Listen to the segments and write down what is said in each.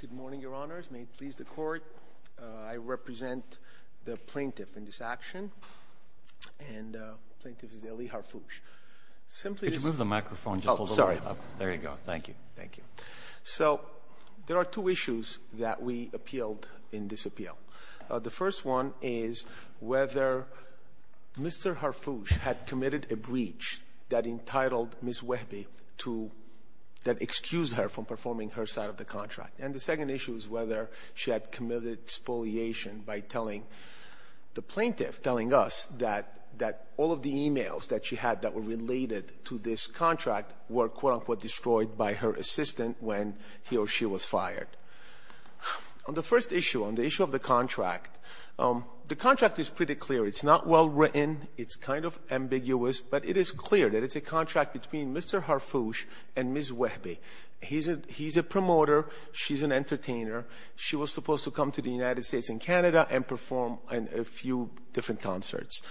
Good morning, Your Honors. May it please the Court, I represent the plaintiff in this action, and plaintiff is Elie Harfouche. Could you move the microphone just a little bit? Oh, sorry. There you go. Thank you. Thank you. So there are two issues that we appealed in this appeal. The first one is whether Mr. Harfouche had committed a breach that entitled Ms. Wehbe to that excused her from performing her side of the contract. And the second issue is whether she had committed expoliation by telling the plaintiff, telling us that all of the e-mails that she had that were related to this contract were, quote-unquote, destroyed by her assistant when he or she was fired. On the first issue, on the issue of the contract, the contract is pretty clear. It's not well written. It's kind of ambiguous. But it is clear that it's a contract between Mr. Harfouche and Ms. Wehbe. He's a promoter. She's an entertainer. She was supposed to come to the United States and Canada and perform in a few different concerts.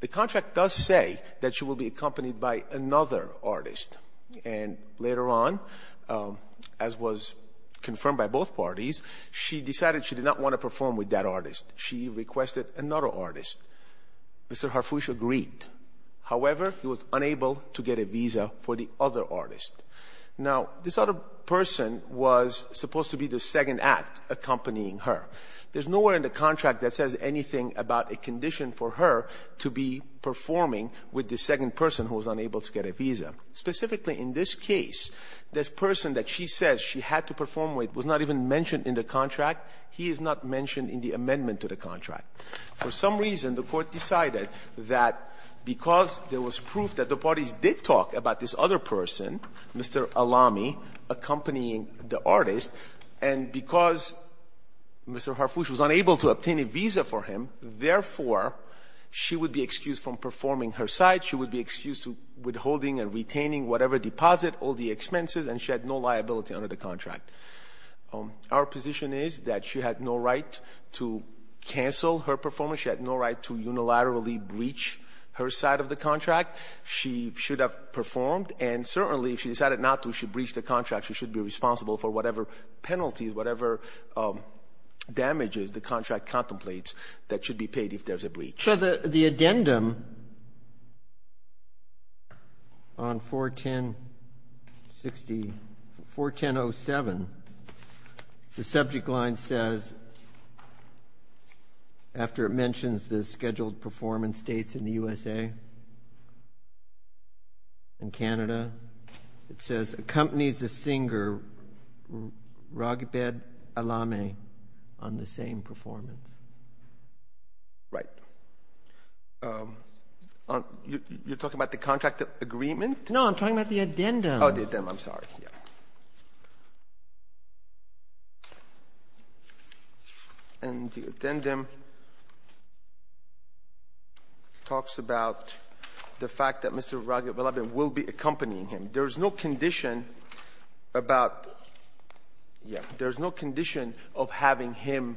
The contract does say that she will be accompanied by another artist. And later on, as was confirmed by both parties, she decided she did not want to perform with that artist. She requested another artist. Mr. Harfouche agreed. However, he was unable to get a visa for the other artist. Now, this other person was supposed to be the second act accompanying her. There's nowhere in the contract that says anything about a condition for her to be performing with the second person who was unable to get a visa. Specifically, in this case, this person that she says she had to perform with was not even mentioned in the contract. He is not mentioned in the amendment to the contract. For some reason, the Court decided that because there was proof that the parties did talk about this other person, Mr. Allami, accompanying the artist, and because Mr. Harfouche was unable to obtain a visa for him, therefore, she would be excused from performing her side. She would be excused to withholding and retaining whatever deposit, all the expenses, and she had no liability under the contract. Our position is that she had no right to cancel her performance. She had no right to unilaterally breach her side of the contract. She should have performed. And certainly, if she decided not to, she breached the contract. She should be responsible for whatever penalties, whatever damages the contract So the addendum on 410-06, 410-07, the subject line says, after it mentions the scheduled performance dates in the USA and Canada, it says, accompanies the singer Raghibet Allami on the same performance. Right. You're talking about the contract agreement? No, I'm talking about the addendum. Oh, the addendum. I'm sorry. And the addendum talks about the fact that Mr. Raghibet Allami will be accompanying him. There is no condition about — yeah. There's no condition of having him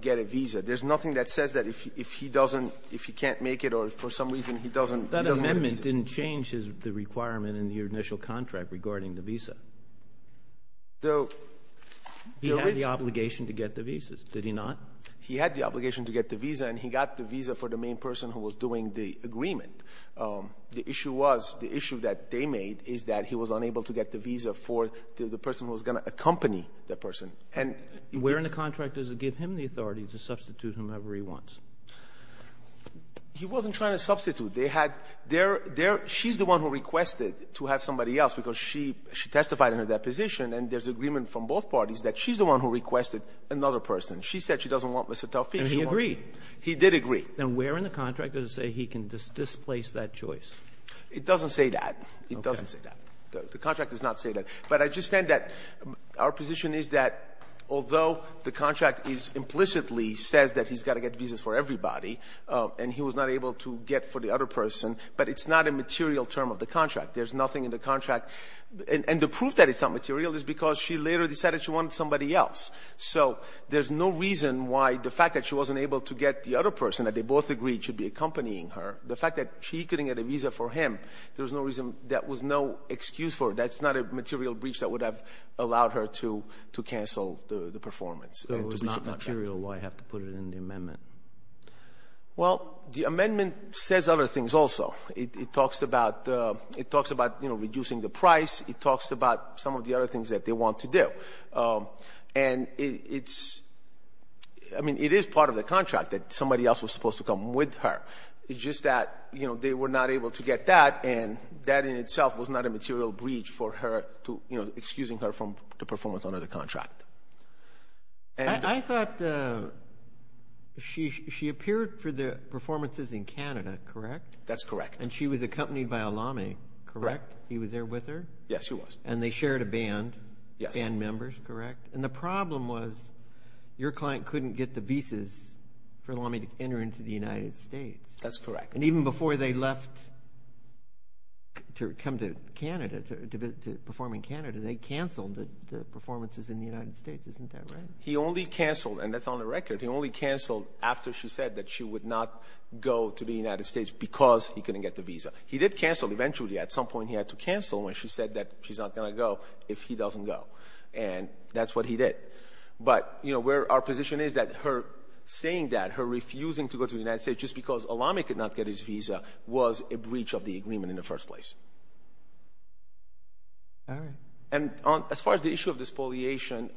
get a visa. There's nothing that says that if he doesn't, if he can't make it or for some reason he doesn't get a visa. That amendment didn't change the requirement in your initial contract regarding the visa. So there is — He had the obligation to get the visas, did he not? He had the obligation to get the visa, and he got the visa for the main person who was doing the agreement. The issue was — the issue that they made is that he was unable to get the visa for the person who was going to accompany that person. And — Where in the contract does it give him the authority to substitute whomever he wants? He wasn't trying to substitute. They had — they're — she's the one who requested to have somebody else because she testified in her deposition, and there's agreement from both parties that she's the one who requested another person. She said she doesn't want Mr. Taufik. And he agreed. He did agree. Then where in the contract does it say he can displace that choice? It doesn't say that. Okay. It doesn't say that. The contract does not say that. But I just think that our position is that although the contract is implicitly says that he's got to get visas for everybody, and he was not able to get for the other person, but it's not a material term of the contract. There's nothing in the contract. And the proof that it's not material is because she later decided she wanted somebody else. So there's no reason why the fact that she wasn't able to get the other person that they both agreed should be accompanying her, the fact that she couldn't get a visa for him, there's no reason that was no excuse for it. That's not a material breach that would have allowed her to — to cancel the performance. It was not material. Why have to put it in the amendment? Well, the amendment says other things also. It talks about — it talks about, you know, reducing the price. It talks about some of the other things that they want to do. And it's — I mean, it is part of the contract that somebody else was supposed to come with her. It's just that, you know, they were not able to get that, and that in itself was not a material breach for her to — you know, excusing her from the performance under the contract. And — I thought she appeared for the performances in Canada, correct? That's correct. And she was accompanied by Allame, correct? Correct. He was there with her? Yes, he was. And they shared a band. Yes. Band members, correct? And the problem was, your client couldn't get the visas for Allame to enter into the United States. That's correct. And even before they left to come to Canada, to — to perform in Canada, they canceled the performances in the United States. Isn't that right? He only canceled — and that's on the record — he only canceled after she said that she would not go to the United States because he couldn't get the visa. He did cancel eventually. At some point, he had to cancel when she said that she's not going to go if he doesn't go. And that's what he did. But, you know, where our position is that her saying that, her refusing to go to the United States just because Allame could not get his visa was a breach of the agreement in the first place. All right. And on — as far as the issue of the spoliation,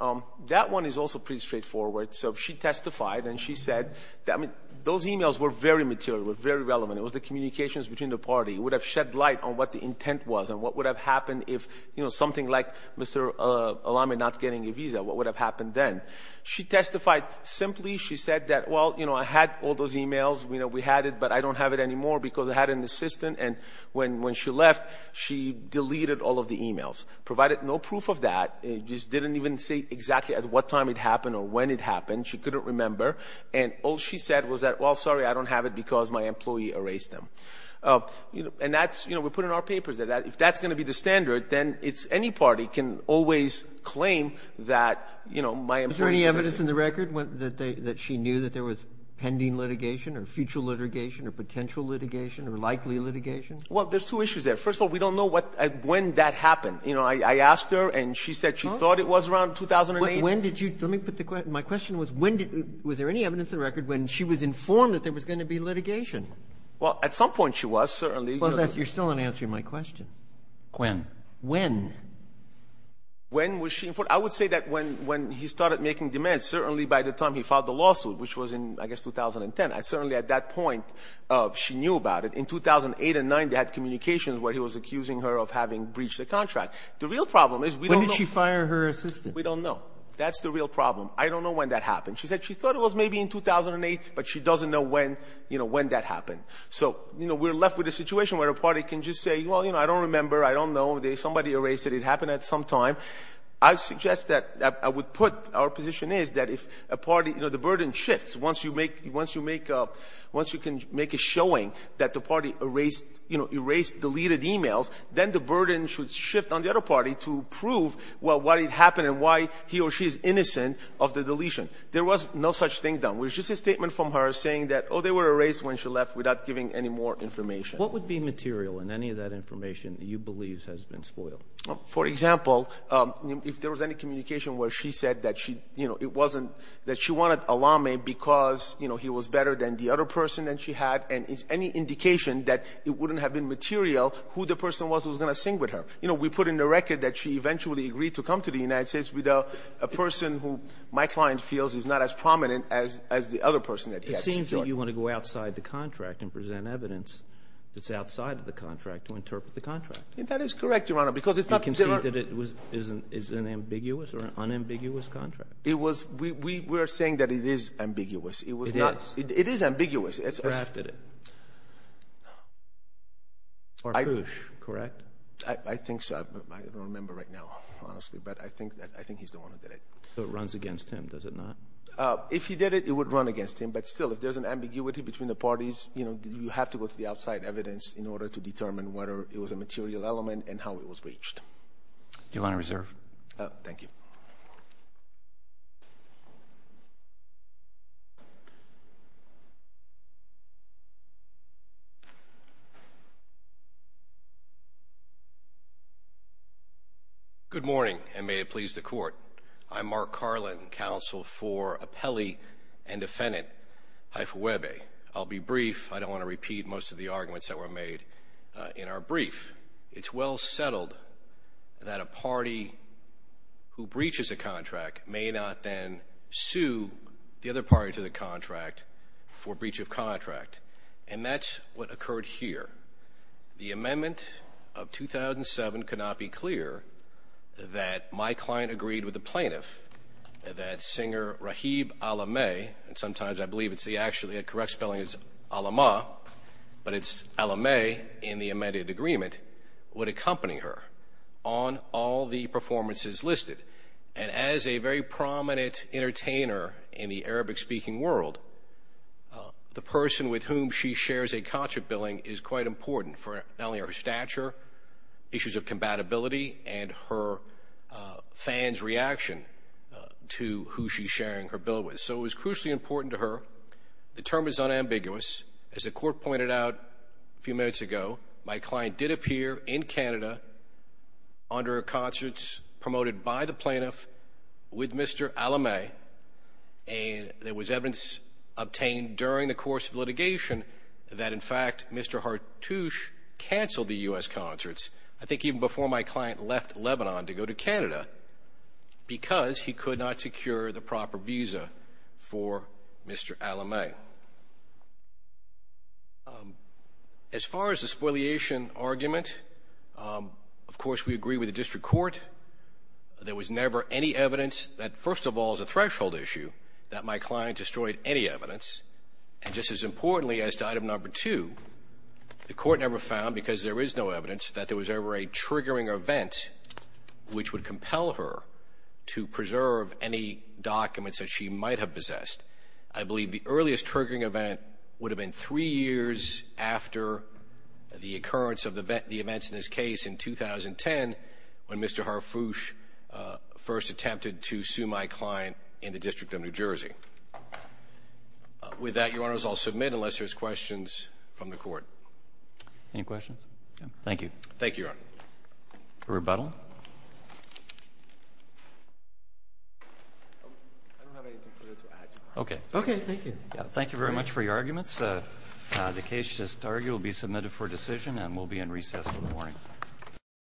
that one is also pretty straightforward. So she testified, and she said — I mean, those emails were very material, were very relevant. It was the communications between the party. It would have shed light on what the intent was and what would have happened if, you know, something like Mr. Allame not getting a visa. What would have happened then? She testified simply. She said that, well, you know, I had all those emails. You know, we had it, but I don't have it anymore because I had an assistant. And when she left, she deleted all of the emails, provided no proof of that, just didn't even say exactly at what time it happened or when it happened. She couldn't remember. And all she said was that, well, sorry, I don't have it because my employee erased them. And that's — you know, we put in our papers that if that's going to be the standard, then it's — any party can always claim that, you know, my employee — Is there any evidence in the record that she knew that there was pending litigation or future litigation or potential litigation or likely litigation? Well, there's two issues there. First of all, we don't know what — when that happened. You know, I asked her, and she said she thought it was around 2008. When did you — let me put the — my question was, when did — was there any evidence in the record when she was informed that there was going to be litigation? Well, at some point she was, certainly. Well, that's — you're still not answering my question. When? When? When was she informed? I would say that when — when he started making demands, certainly by the time he filed the lawsuit, which was in, I guess, 2010. Certainly at that point, she knew about it. In 2008 and 2009, they had communications where he was accusing her of having breached the contract. The real problem is we don't know — When did she fire her assistant? We don't know. That's the real problem. I don't know when that happened. She said she thought it was maybe in 2008, but she doesn't know when — you know, when that happened. So, you know, we're left with a situation where a party can just say, well, you know, I don't remember. I don't know. Somebody erased it. It happened at some time. I suggest that I would put — our position is that if a party — you know, the burden shifts once you make — once you make a — once you can make a showing that the party erased — you know, erased, deleted emails, then the burden should shift on the other party to prove, well, why it happened and why he or she is innocent of the deletion. There was no such thing done. It was just a statement from her saying that, oh, they were erased when she left without giving any more information. What would be material in any of that information that you believe has been spoiled? For example, if there was any communication where she said that she — you know, it wasn't — that she wanted Allame because, you know, he was better than the other person that she had, and any indication that it wouldn't have been material who the person was who was going to sing with her. You know, we put in the record that she eventually agreed to come to the United States without a person who my client feels is not as prominent as the other person that he had. It seems that you want to go outside the contract and present evidence that's outside of the contract to interpret the contract. That is correct, Your Honor, because it's not — You can see that it was — is an ambiguous or an unambiguous contract. It was — we were saying that it is ambiguous. It was not — It is. It is ambiguous. It's — Perhaps it is. Or push, correct? I think so. I don't remember right now, honestly. But I think that — I think he's the one who did it. So it runs against him, does it not? If he did it, it would run against him. But still, if there's an ambiguity between the parties, you know, you have to go to the outside evidence in order to determine whether it was a material element and how it was reached. Your Honor, reserve. Thank you. Good morning, and may it please the Court. I'm Mark Carlin, counsel for appellee and defendant Haifa Webe. I'll be brief. I don't want to repeat most of the arguments that were made in our brief. It's well settled that a party who breaches a contract may not then sue the other party to the contract for breach of contract. And that's what occurred here. The amendment of 2007 could not be clearer that my client agreed with the plaintiff that singer Rahib Alameh, and sometimes I believe it's the — actually, the correct spelling is Alamah, but it's Alameh in the amended agreement, would accompany her on all the performances listed. And as a very prominent entertainer in the Arabic-speaking world, the person with whom she shares a contract billing is quite important for not only her stature, issues of compatibility, and her fans' reaction to who she's sharing her bill with. So it was crucially important to her. The term is unambiguous. As the Court pointed out a few minutes ago, my client did appear in Canada under concerts promoted by the plaintiff with Mr. Alameh, and there was evidence obtained during the course of litigation that, in fact, Mr. Hartouche canceled the U.S. concerts, I think even before my client left Lebanon to go to Canada, because he could not secure the proper visa for Mr. Alameh. Now, as far as the spoliation argument, of course, we agree with the district court. There was never any evidence that, first of all, is a threshold issue, that my client destroyed any evidence. And just as importantly as to item number two, the court never found, because there is no evidence, that there was ever a triggering event which would compel her to preserve any documents that she might have possessed. I believe the earliest triggering event would have been three years after the occurrence of the events in this case in 2010 when Mr. Hartouche first attempted to sue my client in the District of New Jersey. With that, Your Honors, I'll submit unless there's questions from the Court. Any questions? Thank you. Thank you, Your Honor. For rebuttal? I don't have anything for you to add, Your Honor. Okay. Okay. Thank you. Thank you very much for your arguments. The case to argue will be submitted for decision and will be in recess in the morning.